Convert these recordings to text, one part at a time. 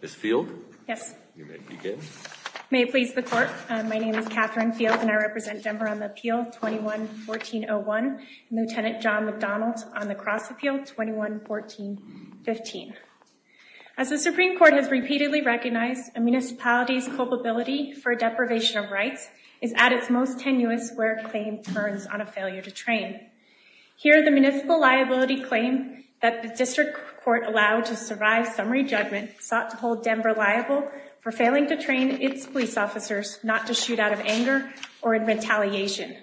Ms. Field? Yes. You may begin. May it please the court, my name is Catherine Field and I represent Denver on the appeal 21-1401 and Lieutenant John McDonald on the cross appeal 21-1415. As the Supreme Court has repeatedly recognized, a municipality's culpability for deprivation of rights is at its most tenuous where a claim turns on a failure to train. Here the municipal claim that the district court allowed to survive summary judgment sought to hold Denver liable for failing to train its police officers not to shoot out of anger or in retaliation.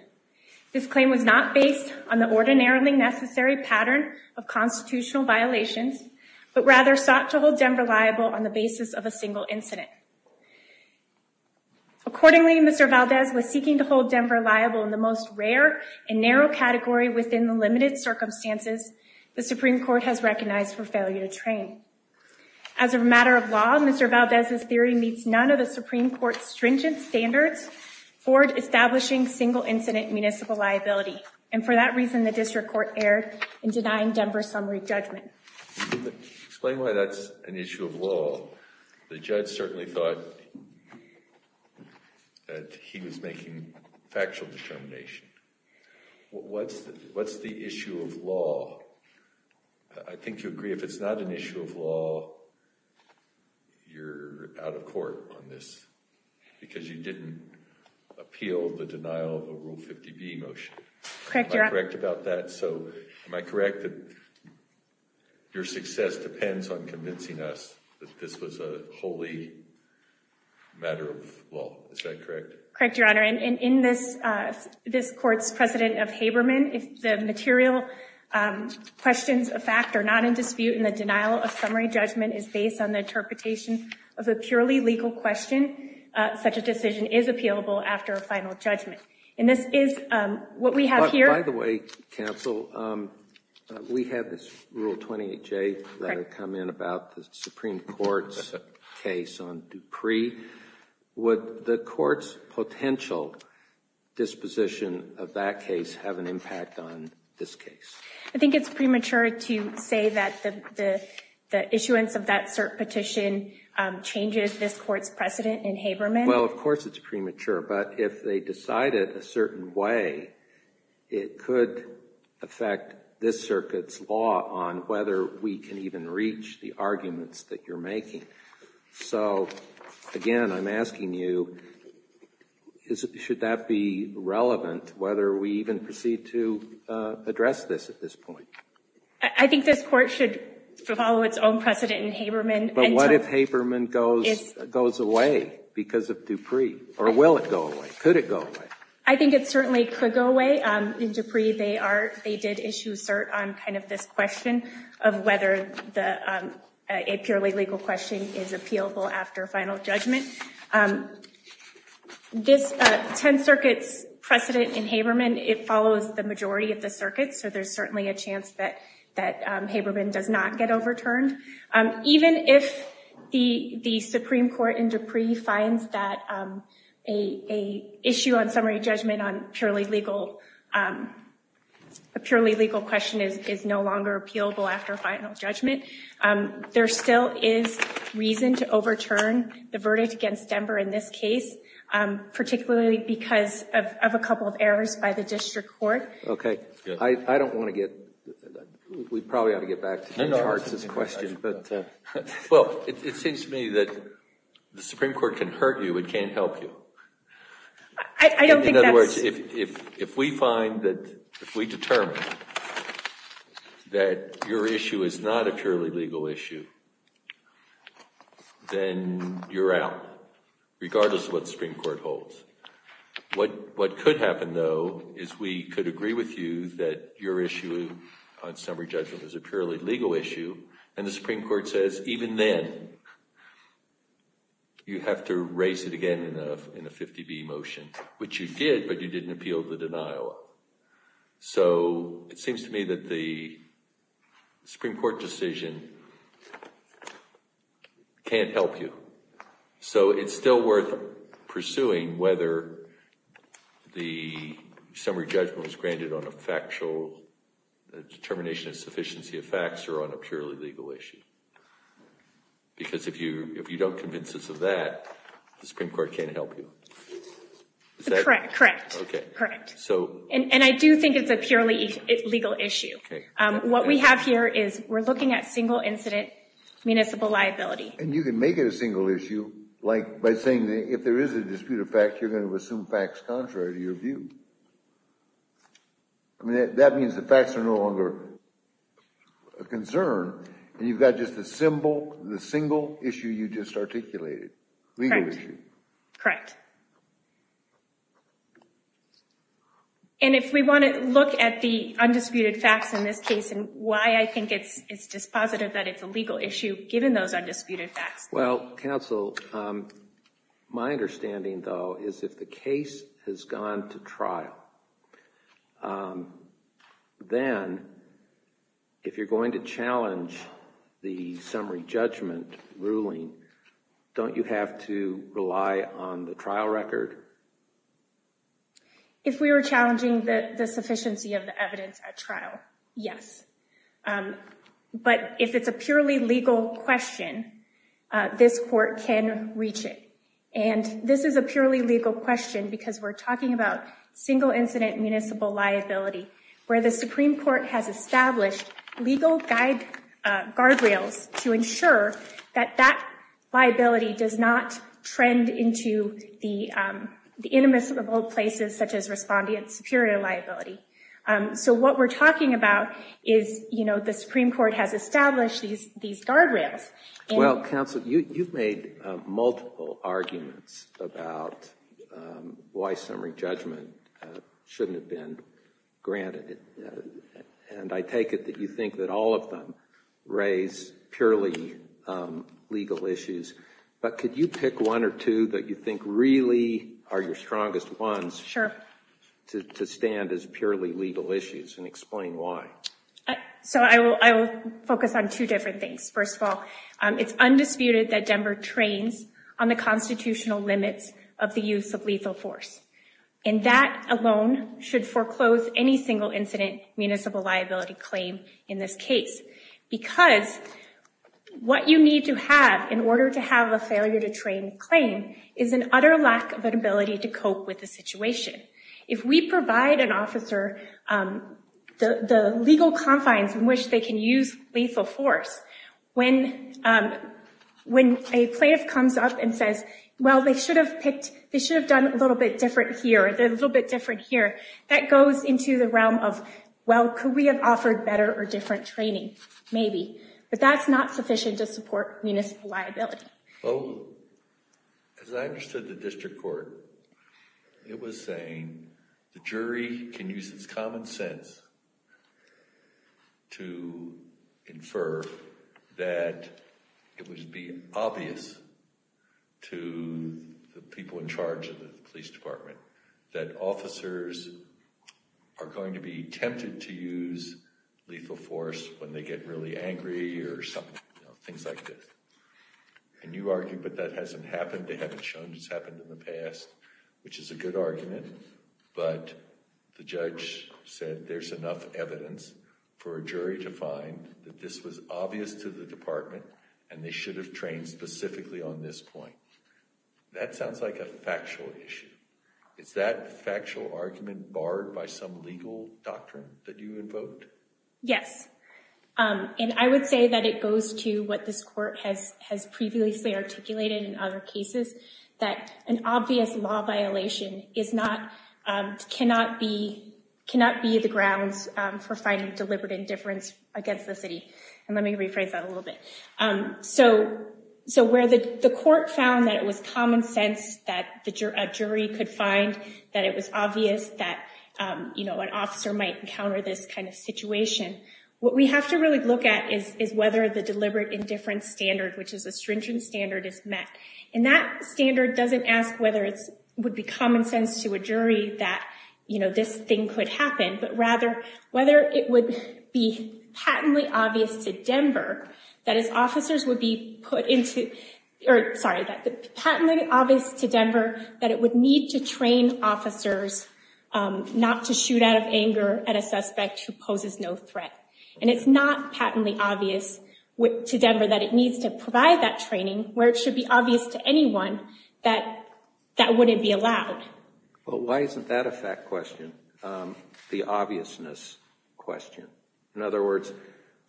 This claim was not based on the ordinarily necessary pattern of constitutional violations but rather sought to hold Denver liable on the basis of a single incident. Accordingly, Mr. Valdez was seeking to hold Denver liable in the most rare and narrow category within the limited circumstances the Supreme Court has recognized for failure to train. As a matter of law, Mr. Valdez's theory meets none of the Supreme Court's stringent standards for establishing single incident municipal liability and for that reason the district court erred in denying Denver summary judgment. Explain why that's an issue of law. I think you agree if it's not an issue of law you're out of court on this because you didn't appeal the denial of a rule 50b motion. Am I correct about that? So am I correct that your success depends on convincing us that this was a wholly matter of law? Is that correct? Correct, your honor. And in this court's precedent of Haberman, if the material questions of fact are not in dispute and the denial of summary judgment is based on the interpretation of a purely legal question, such a decision is appealable after a final judgment. And this is what we have here. By the way counsel, we have this rule 28j that had come in about the Supreme Court's case on Dupree. Would the court's potential disposition of that case have an impact on this case? I think it's premature to say that the issuance of that cert petition changes this premature. But if they decided a certain way, it could affect this circuit's law on whether we can even reach the arguments that you're making. So again, I'm asking you, should that be relevant whether we even proceed to address this at this point? I think this court should follow its own or will it go away? Could it go away? I think it certainly could go away. In Dupree, they did issue cert on kind of this question of whether a purely legal question is appealable after final judgment. This 10th Circuit's precedent in Haberman, it follows the majority of the circuit, so there's certainly a chance that Haberman does not get overturned. Even if the Supreme Court in Dupree finds that an issue on summary judgment on a purely legal question is no longer appealable after final judgment, there still is reason to overturn the verdict against Denver in this case, particularly because of a couple of errors by the district court. Okay, I don't want to get, we probably ought to get back to the charts this question. Well, it seems to me that the Supreme Court can hurt you, it can't help you. In other words, if we find that, if we determine that your issue is not a purely legal issue, then you're out, regardless of what the Supreme Court holds. What could happen, though, is we could agree with you that your issue on summary judgment is a purely legal issue, and the Supreme Court says, even then, you have to raise it again in a 50-B motion, which you did, but you didn't appeal the denial. So it seems to me that the Supreme Court decision can't help you. So it's granted on a factual determination of sufficiency of facts, or on a purely legal issue. Because if you don't convince us of that, the Supreme Court can't help you. Is that correct? Correct, correct. And I do think it's a purely legal issue. What we have here is, we're looking at single incident municipal liability. And you can make it a single issue, like by saying that if there is a dispute of fact, you're going to assume facts contrary to your view. I mean, that means the facts are no longer a concern, and you've got just a symbol, the single issue you just articulated, legal issue. Correct. And if we want to look at the undisputed facts in this case, and why I think it's dispositive that it's a legal issue, given those undisputed facts. Well, counsel, my understanding though, is if the case has gone to trial, then if you're going to challenge the summary judgment ruling, don't you have to rely on the trial record? If we were challenging the sufficiency of the evidence at trial, yes. But if it's a purely legal question, this court can reach it. And this is a purely legal question, because we're talking about single incident municipal liability, where the Supreme Court has established legal guardrails to ensure that that liability does not trend into the the Supreme Court has established these guardrails. Well, counsel, you've made multiple arguments about why summary judgment shouldn't have been granted. And I take it that you think that all of them raise purely legal issues. But could you pick one or two that you think really are your strongest ones to stand as purely legal issues and explain why? So I will focus on two different things. First of all, it's undisputed that Denver trains on the constitutional limits of the use of lethal force. And that alone should foreclose any single incident municipal liability claim in this case. Because what you need to have in order to have a failure to train claim is an utter lack of an ability to cope with the situation. If we provide an officer the legal confines in which they can use lethal force, when a plaintiff comes up and says, well, they should have picked, they should have done a little bit different here, a little bit different here, that goes into the realm of, well, could we have offered better or different training? Maybe. But that's not sufficient to support municipal liability. Well, as I understood the district court, it was saying the jury can use its common sense to infer that it would be obvious to the people in charge of the police department that officers are going to be tempted to use lethal force when they get really angry or things like this. And you argue, but that hasn't happened. They haven't shown it's happened in the past, which is a good argument. But the judge said there's enough evidence for a jury to find that this was obvious to the department and they should have trained specifically on this point. That sounds like a factual issue. Is that factual argument barred by some legal doctrine that you to what this court has previously articulated in other cases, that an obvious law violation cannot be the grounds for finding deliberate indifference against the city? And let me rephrase that a little bit. So where the court found that it was common sense that a jury could find that it was obvious that an officer might encounter this kind of situation. What we have to really look at is whether the deliberate indifference standard, which is a stringent standard, is met. And that standard doesn't ask whether it would be common sense to a jury that this thing could happen, but rather whether it would be patently obvious to Denver that it would need to train officers not to shoot out of anger at a suspect who poses no threat. And it's not patently obvious to Denver that it needs to provide that training where it should be obvious to anyone that that wouldn't be allowed. Well, why isn't that a fact question? The obviousness question. In other words,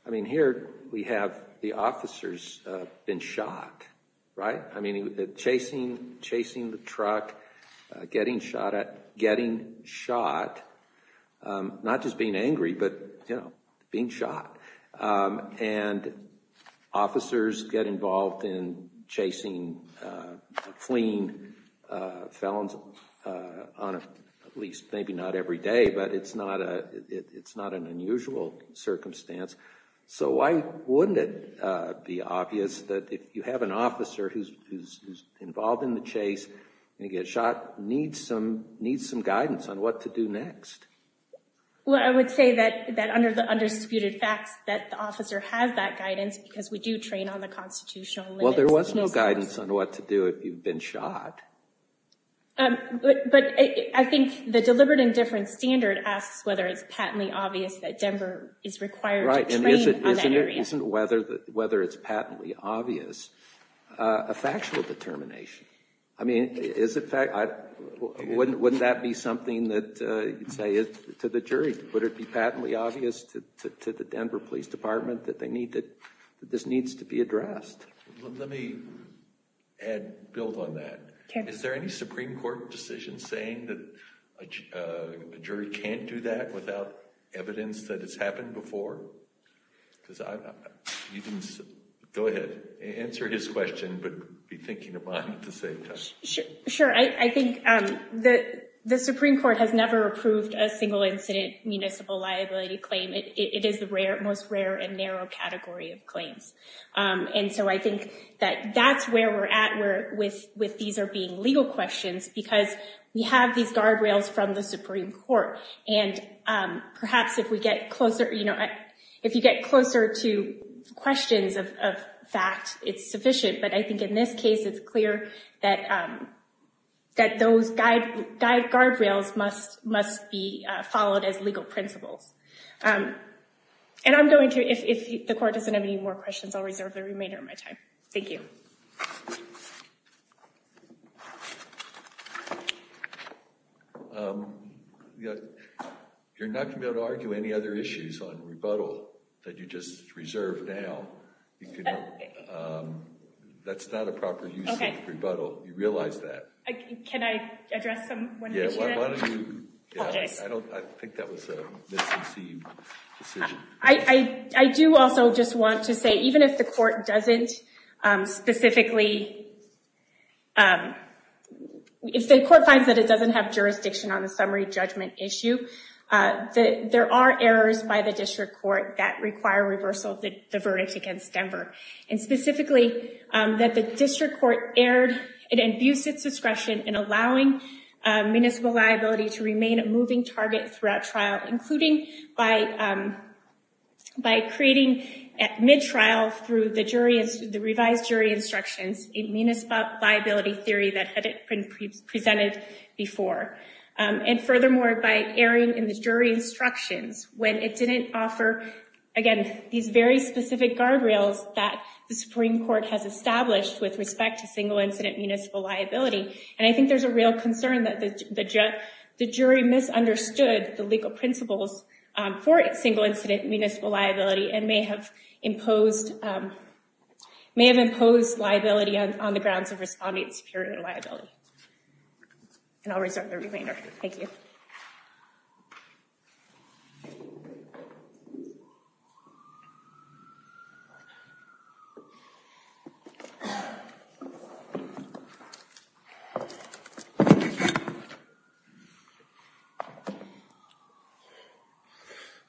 I mean, here we have the officers been shot, right? I mean, chasing the truck, getting shot, not just being angry, but being shot. And officers get involved in chasing, fleeing felons, at least maybe not every day, but it's not an unusual circumstance. So why wouldn't it be obvious that if you have an officer who's involved in the chase and he gets shot, needs some guidance on what to do next? Well, I would say that under the undisputed facts that the officer has that guidance because we do train on the constitutional limits. Well, there was no guidance on what to do if you've been shot. But I think the deliberate indifference standard asks whether it's patently obvious that Denver is required to train on that area. Right, and isn't whether it's patently obvious a factual determination? I mean, wouldn't that be something that you'd say to the jury? Would it be patently obvious to the Denver Police Department that this needs to be addressed? Let me build on that. Is there any Supreme Court decision saying that a jury can't do that without evidence that has happened before? Go ahead, answer his question, but be thinking of mine to save time. Sure. I think the Supreme Court has never approved a single incident municipal liability claim. It is the most rare and narrow category of claims. And so I think that that's where we're at with these being legal questions because we have these guardrails from the Supreme Court. And perhaps if we get closer, you know, if you get closer to questions of fact, it's sufficient. But I think in this case, it's clear that those guardrails must be followed as legal principles. And I'm going to, if the court doesn't have any more questions, I'll reserve the remainder of my time. Thank you. You're not going to be able to argue any other issues on rebuttal that you just reserved now. That's not a proper use of rebuttal. You realize that. Can I address them? Yeah, why don't you? I think that was a misconceived decision. I do also just want to say, even if the court doesn't specifically, if the court finds that it doesn't have jurisdiction on the summary judgment issue, there are errors by the district court that require reversal of the verdict against Denver. And specifically, that the district court erred, it abused its discretion in allowing municipal liability to remain a moving target throughout trial, including by creating at mid trial through the jury, the revised jury instructions, a municipal liability theory that had been presented before. And furthermore, by erring in the jury instructions when it didn't offer, again, these very specific guardrails that the Supreme Court has established with respect to the jury misunderstood the legal principles for a single incident municipal liability and may have imposed liability on the grounds of responding to superior liability. And I'll reserve the remainder. Thank you.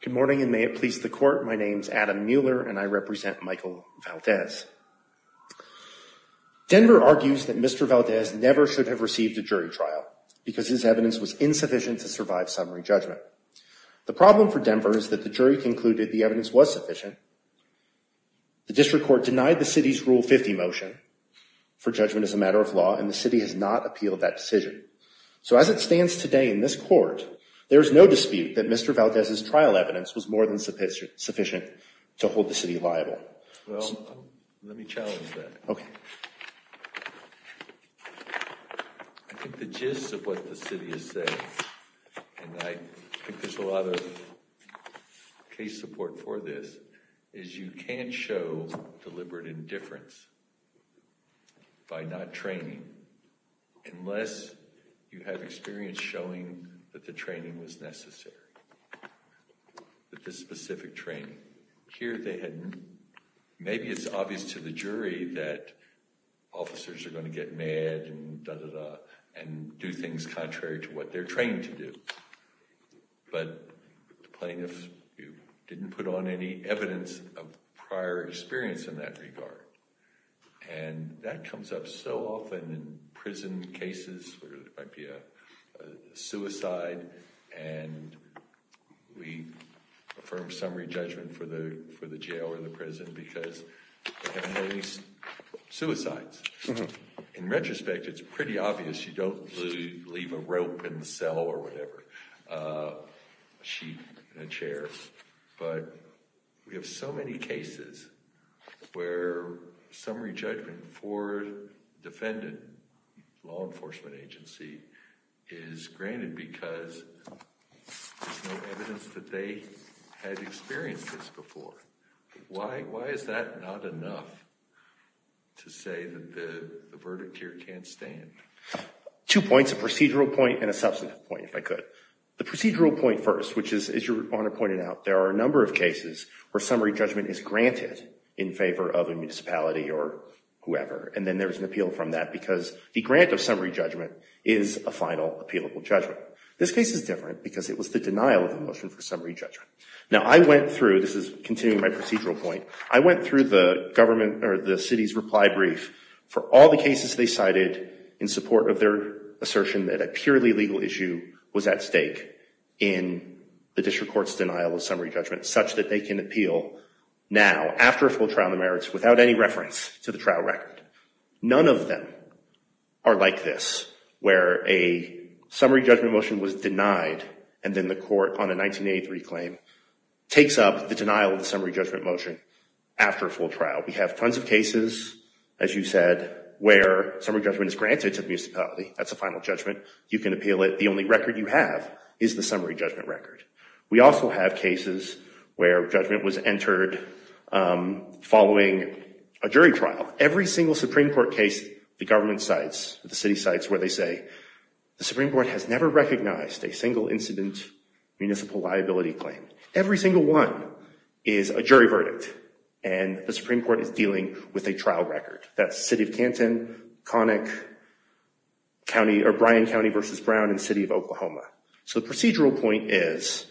Good morning and may it please the court. My name is Adam Mueller and I represent Michael Valdez. Denver argues that Mr. Valdez never should have received a jury trial because his evidence was insufficient to survive summary judgment. The problem for Denver is that the jury concluded the evidence was sufficient. The district court denied the city's Rule 50 motion for judgment as a matter of law and the city has not appealed that decision. So as it stands today in this court, there is no dispute that Mr. Valdez's trial evidence was more than sufficient to hold the city liable. Well, let me challenge that. Okay. I think the gist of what the city has said, and I think there's a lot of case support for this, is you can't show deliberate indifference by not training unless you have experience showing that the training was necessary, that this specific training. Here they had, maybe it's obvious to the jury that officers are going to get mad and da da da and do things contrary to what they're trained to do. But the plaintiffs didn't put on any evidence of prior experience in that regard. And that comes up so often in prison cases where there might be a suicide and we affirm summary judgment for the jail or the prison because they haven't heard any suicides. In retrospect, it's pretty obvious you don't leave a rope in the cell or whatever, a sheep in a chair. But we have so many cases where summary judgment for a defendant, law enforcement agency, is granted because there's no evidence that they had experienced this before. Why is that not enough to say that the verdict here can't stand? Two points, a procedural point and a substantive point, if I could. The procedural point first, which is, as your Honor pointed out, there are a number of cases where summary judgment is granted in favor of a municipality or whoever, and then there's an appeal from that because the grant of summary judgment is a final appealable judgment. This case is different because it was the denial of the motion for summary judgment. Now I went through, this is continuing my procedural point, I went through the government or the city's reply brief for all the cases they cited in support of their assertion that a purely legal issue was at stake in the district court's denial of summary judgment such that they can appeal now after a full trial on the merits without any reference to the trial record. None of them are like this where a summary judgment motion was denied and then the court on a 1983 claim takes up the denial of the summary judgment motion after a full trial. We have tons of cases, as you said, where summary judgment is granted to the municipality. That's a final judgment. You can appeal it. The only record you have is the summary judgment record. We also have cases where judgment was entered following a jury trial. Every single Supreme Court case the government cites, the city cites, where they say, the Supreme Court has never recognized a single incident municipal liability claim. Every single one is a jury verdict and the Supreme Court is dealing with a trial record. That's City of Canton, Connick County or Bryan County versus Brown and City of Oklahoma. So the procedural point is,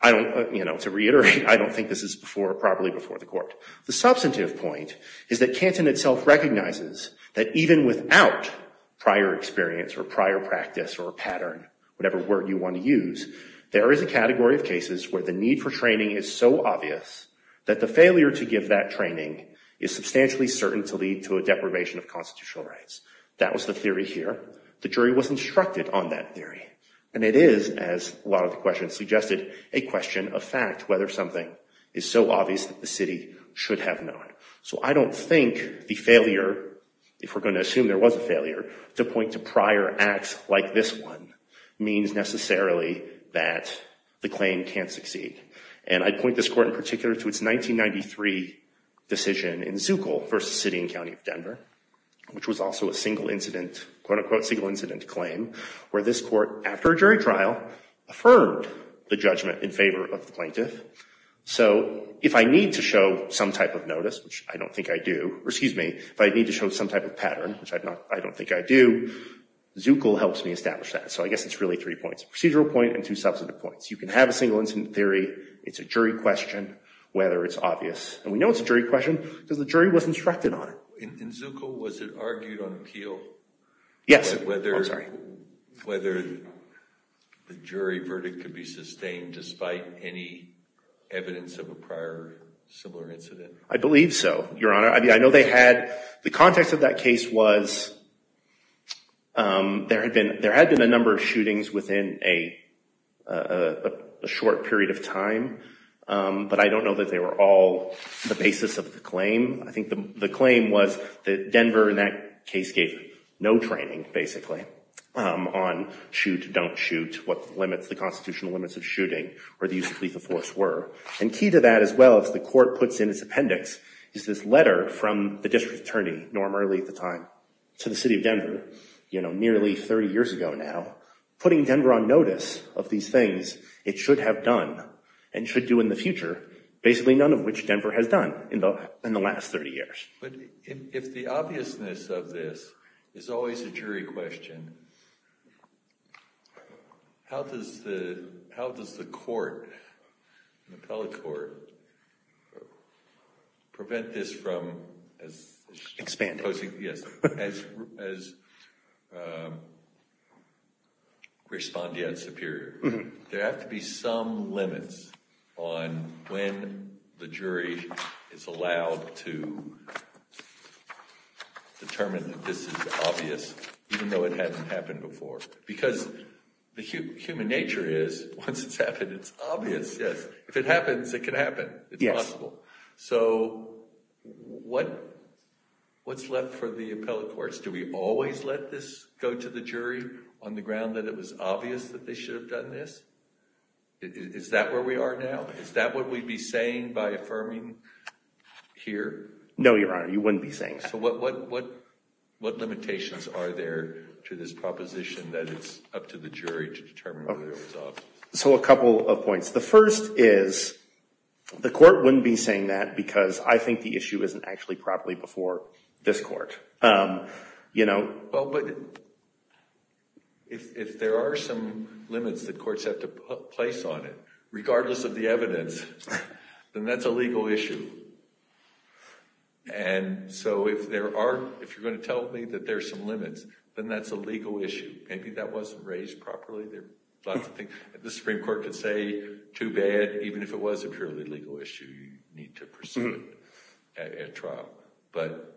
I don't, you know, to reiterate, I don't think this is before or probably before the court. The substantive point is that Canton itself recognizes that even without prior experience or prior practice or a pattern, whatever word you want to use, there is a category of cases where the need for training is so obvious that the failure to give that training is substantially certain to lead to a deprivation of constitutional rights. That was the theory here. The jury was instructed on that theory and it is, as a lot of the questions suggested, a question of fact whether something is so obvious that the city should have known. So I don't think the failure, if we're going to assume there was a failure, to point to prior acts like this one means necessarily that the claim can't succeed. And I point this court in particular to its 1993 decision in Zuckel versus City and County of Denver, which was also a single incident quote-unquote single incident claim, where this court, after a jury trial, affirmed the judgment in favor of the plaintiff. So if I need to show some type of notice, which I don't think I do, or excuse me, if I need to show some type of pattern, which I don't think I do, Zuckel helps me establish that. So I guess it's really three points. Procedural point and two substantive points. You can have a single incident theory. It's a jury question whether it's obvious. And we know it's a jury question because the jury was instructed on it. In Zuckel, was it argued on appeal? Yes. I'm sorry. Whether the jury verdict could be sustained despite any evidence of a prior similar incident? I believe so, Your Honor. I mean, I know they had, the context of that case was there had been a number of shootings within a short period of time. But I don't know that they were all the basis of the claim. I think the claim was that Denver, in that case, gave no training, basically, on shoot, don't shoot, what the constitutional limits of shooting or the use of lethal force were. And key to that as well, as the court puts in its appendix, is this letter from the district attorney, Norm Early at the time, to the city of Denver nearly 30 years ago now, putting Denver on notice of these things it should have done and should do in the future, basically none of which Denver has done in the last 30 years. But if the obviousness of this is always a jury question, how does the court, the appellate court, prevent this from as... Expanding. Yes, as respondeat superior. There have to be some limits on when the jury is allowed to determine that this is obvious, even though it hadn't happened before. Because the human nature is, once it's happened, it's obvious, yes. If it happens, it can happen. It's possible. So what's left for the appellate courts? Do we always let this go to the jury on the ground that it was obvious that they should have done this? Is that where we are now? Is that what we'd be saying by affirming here? No, Your Honor, you wouldn't be saying that. So what limitations are there to this proposition that it's up to the jury to determine whether it was obvious? So a couple of points. The first is the court wouldn't be saying that because I think the issue isn't actually properly before this court. But if there are some limits that courts have to place on it, regardless of the evidence, then that's a legal issue. And so if you're going to tell me that there's some limits, then that's a legal issue. Maybe that wasn't raised properly. There are lots of things. The Supreme Court could say, too bad. Even if it was a purely legal issue, you need to pursue it at trial. But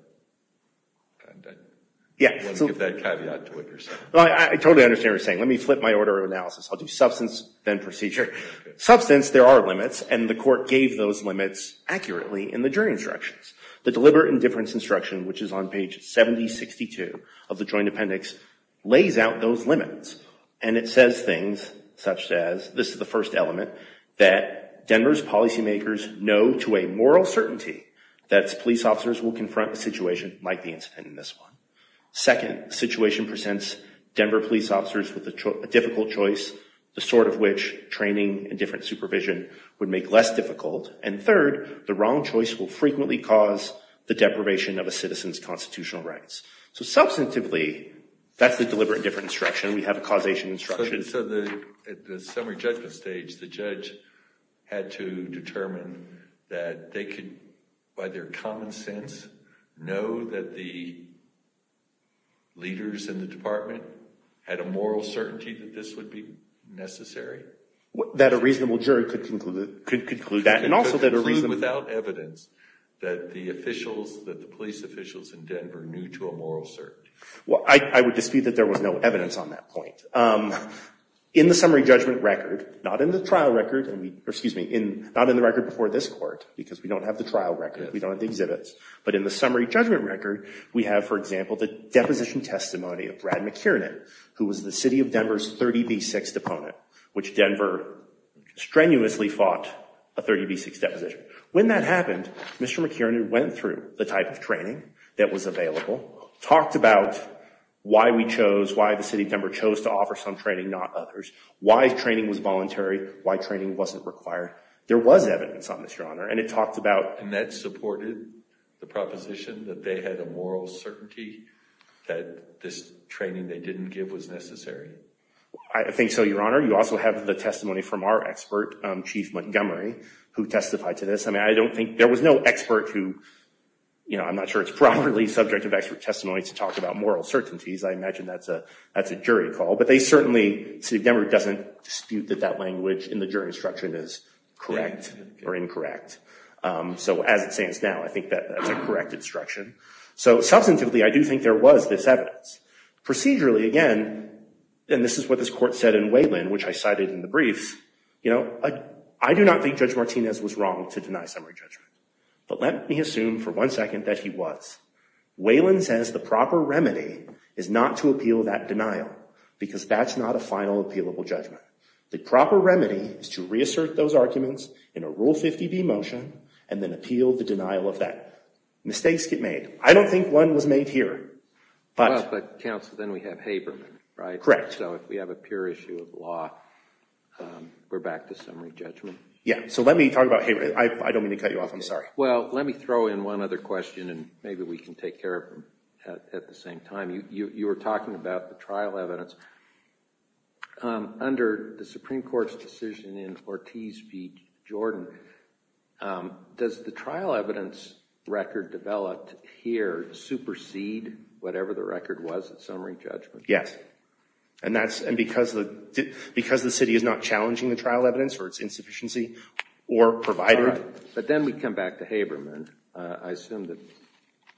I won't give that caveat to witnesses. Well, I totally understand what you're saying. Let me flip my order of analysis. I'll do substance, then procedure. Substance, there are limits. And the court gave those limits accurately in the jury instructions. The deliberate indifference instruction, which is on page 7062 of the Joint Appendix, lays out those limits. And it says things such as, this is the first element, that Denver's policymakers know to a moral certainty that police officers will confront a situation like the incident in this one. Second, the situation presents Denver police officers with a difficult choice, the sort of which training and different supervision would make less difficult. And third, the wrong choice will frequently cause the deprivation of a citizen's constitutional rights. So substantively, that's the deliberate indifference instruction. We have a causation instruction. So at the summary judgment stage, the judge had to determine that they could, by their common sense, know that the leaders in the department had a moral certainty that this evidence that the police officials in Denver knew to a moral certainty. Well, I would dispute that there was no evidence on that point. In the summary judgment record, not in the trial record, or excuse me, not in the record before this court, because we don't have the trial record. We don't have the exhibits. But in the summary judgment record, we have, for example, the deposition testimony of Brad McKiernan, who was the city of Denver's 30B6 opponent, which Denver strenuously fought a 30B6 deposition. When that happened, Mr. McKiernan went through the type of training that was available, talked about why we chose, why the city of Denver chose to offer some training, not others, why training was voluntary, why training wasn't required. There was evidence on this, Your Honor. And it talked about— And that supported the proposition that they had a moral certainty that this training they didn't give was necessary? I think so, Your Honor. You also have the testimony from our expert, Chief Montgomery, who testified to this. I mean, I don't think—there was no expert who, you know, I'm not sure it's properly subject of expert testimony to talk about moral certainties. I imagine that's a jury call. But they certainly—city of Denver doesn't dispute that that language in the jury instruction is correct or incorrect. So as it stands now, I think that's a correct instruction. So substantively, I do think there was this evidence. Procedurally, again, and this is what this court said in Whelan, which I cited in the briefs, you know, I do not think Judge Martinez was wrong to deny summary judgment. But let me assume for one second that he was. Whelan says the proper remedy is not to appeal that denial because that's not a final appealable judgment. The proper remedy is to reassert those arguments in a Rule 50B motion and then appeal the denial of that. Mistakes get made. I don't think one was made here, but— Well, but, counsel, then we have Haberman, right? Correct. So if we have a pure issue of law, we're back to summary judgment? Yeah. So let me talk about Haberman. I don't mean to cut you off. I'm sorry. Well, let me throw in one other question and maybe we can take care of them at the same time. You were talking about the trial evidence. Under the Supreme Court's decision in Ortiz v. Jordan, does the trial evidence record developed here supersede whatever the record was at summary judgment? Yes. And because the City is not challenging the trial evidence or its insufficiency or provided— But then we come back to Haberman. I assume that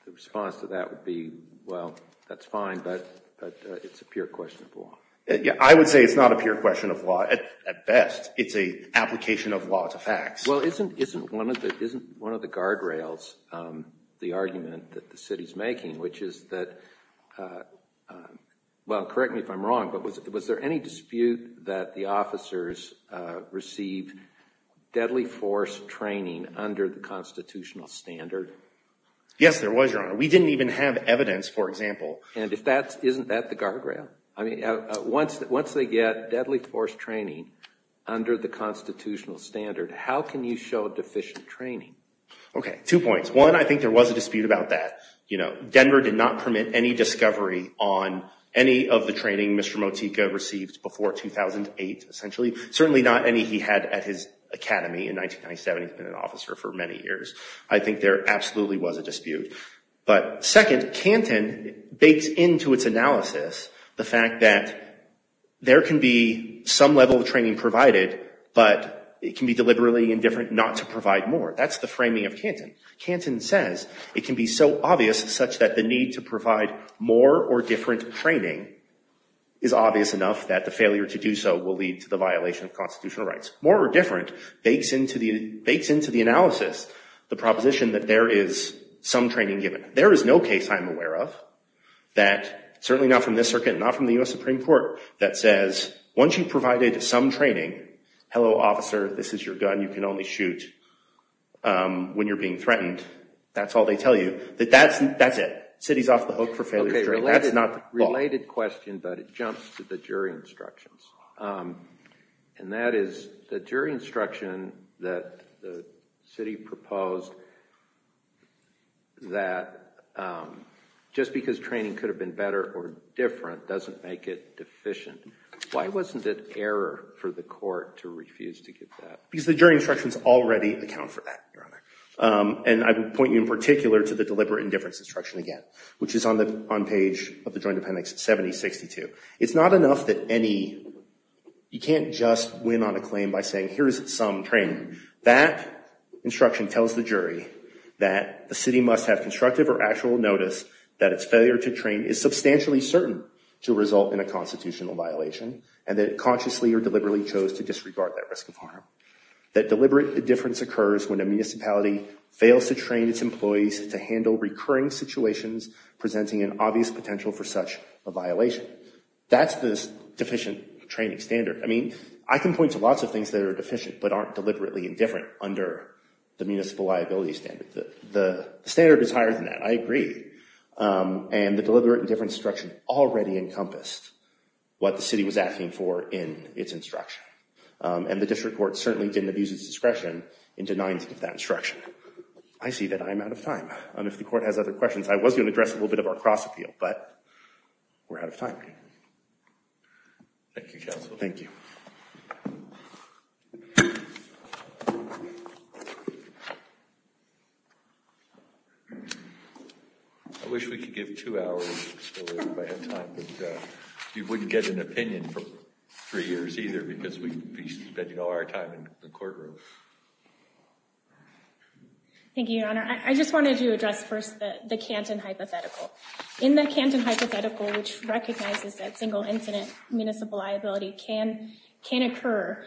the response to that would be, well, that's fine, but it's a pure question of law. I would say it's not a pure question of law at best. It's an application of law to facts. Well, isn't one of the guardrails the argument that the City's making, which is that— well, correct me if I'm wrong, but was there any dispute that the officers received deadly force training under the constitutional standard? Yes, there was, Your Honor. We didn't even have evidence, for example. And isn't that the guardrail? I mean, once they get deadly force training under the constitutional standard, how can you show deficient training? Okay. Two points. One, I think there was a dispute about that. Denver did not permit any discovery on any of the training Mr. Motika received before 2008, essentially. Certainly not any he had at his academy in 1997. He's been an officer for many years. I think there absolutely was a dispute. But second, Canton bakes into its analysis the fact that there can be some level of training provided, but it can be deliberately indifferent not to provide more. That's the framing of Canton. Canton says it can be so obvious such that the need to provide more or different training is obvious enough that the failure to do so will lead to the violation of constitutional rights. More or different bakes into the analysis the proposition that there is some training given. There is no case I'm aware of that, certainly not from this circuit, not from the U.S. Supreme Court, that says once you've provided some training, hello officer, this is your gun, you can only shoot when you're being threatened. That's all they tell you. That's it. The city's off the hook for failure of training. That's not the law. Related question, but it jumps to the jury instructions. And that is the jury instruction that the city proposed that just because training could have been better or different doesn't make it deficient. Why wasn't it error for the court to refuse to give that? Because the jury instructions already account for that, Your Honor. And I would point you in particular to the deliberate indifference instruction again, which is on the page of the Joint Appendix 7062. It's not enough that any, you can't just win on a claim by saying here's some training. That instruction tells the jury that the city must have constructive or actual notice that its failure to train is substantially certain to result in a constitutional violation and that it consciously or deliberately chose to disregard that risk of harm. That deliberate indifference occurs when a municipality fails to train its employees to handle recurring situations presenting an obvious potential for such a violation. That's this deficient training standard. I mean, I can point to lots of things that are deficient but aren't deliberately indifferent under the municipal liability standard. The standard is higher than that. I agree. And the deliberate indifference instruction already encompassed what the city was asking for in its instruction. And the district court certainly didn't abuse its discretion in denying to give that instruction. I see that I'm out of time. And if the court has other questions, I was going to address a little bit of our cross field. But we're out of time. Thank you, counsel. Thank you. I wish we could give two hours. You wouldn't get an opinion for three years either because we'd be spending all our time in the courtroom. Thank you, your honor. I just wanted to address first the Canton hypothetical. In the Canton hypothetical, which recognizes that single incident municipal liability can occur,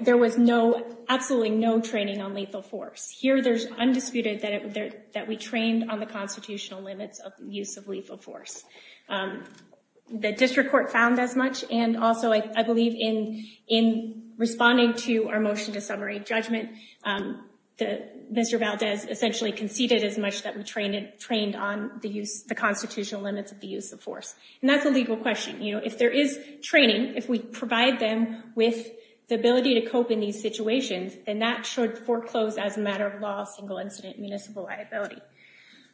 there was no, absolutely no training on lethal force. Here, there's undisputed that we trained on the constitutional limits of use of lethal force. The district court found as much. And also, I believe in responding to our motion to summary judgment, Mr. Valdez essentially conceded as much that we trained on the constitutional limits of the use of force. And that's a legal question. If there is training, if we provide them with the ability to cope in these situations, then that should foreclose as a matter of law, single incident municipal liability.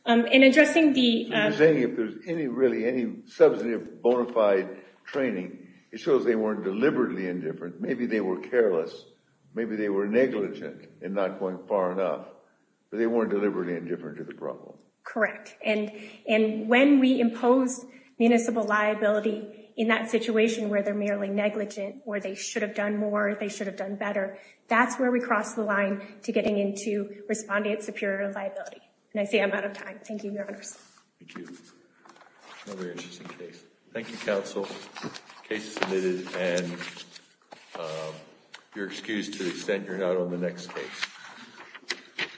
In addressing the- I was saying if there's any really, any substantive bona fide training, it shows they weren't deliberately indifferent. Maybe they were careless. Maybe they were Correct. And when we impose municipal liability in that situation where they're merely negligent, where they should have done more, they should have done better, that's where we cross the line to getting into respondent superior liability. And I say I'm out of time. Thank you, your honors. Thank you. Another interesting case. Thank you, counsel. Case submitted and you're excused to the extent you're not on the next case.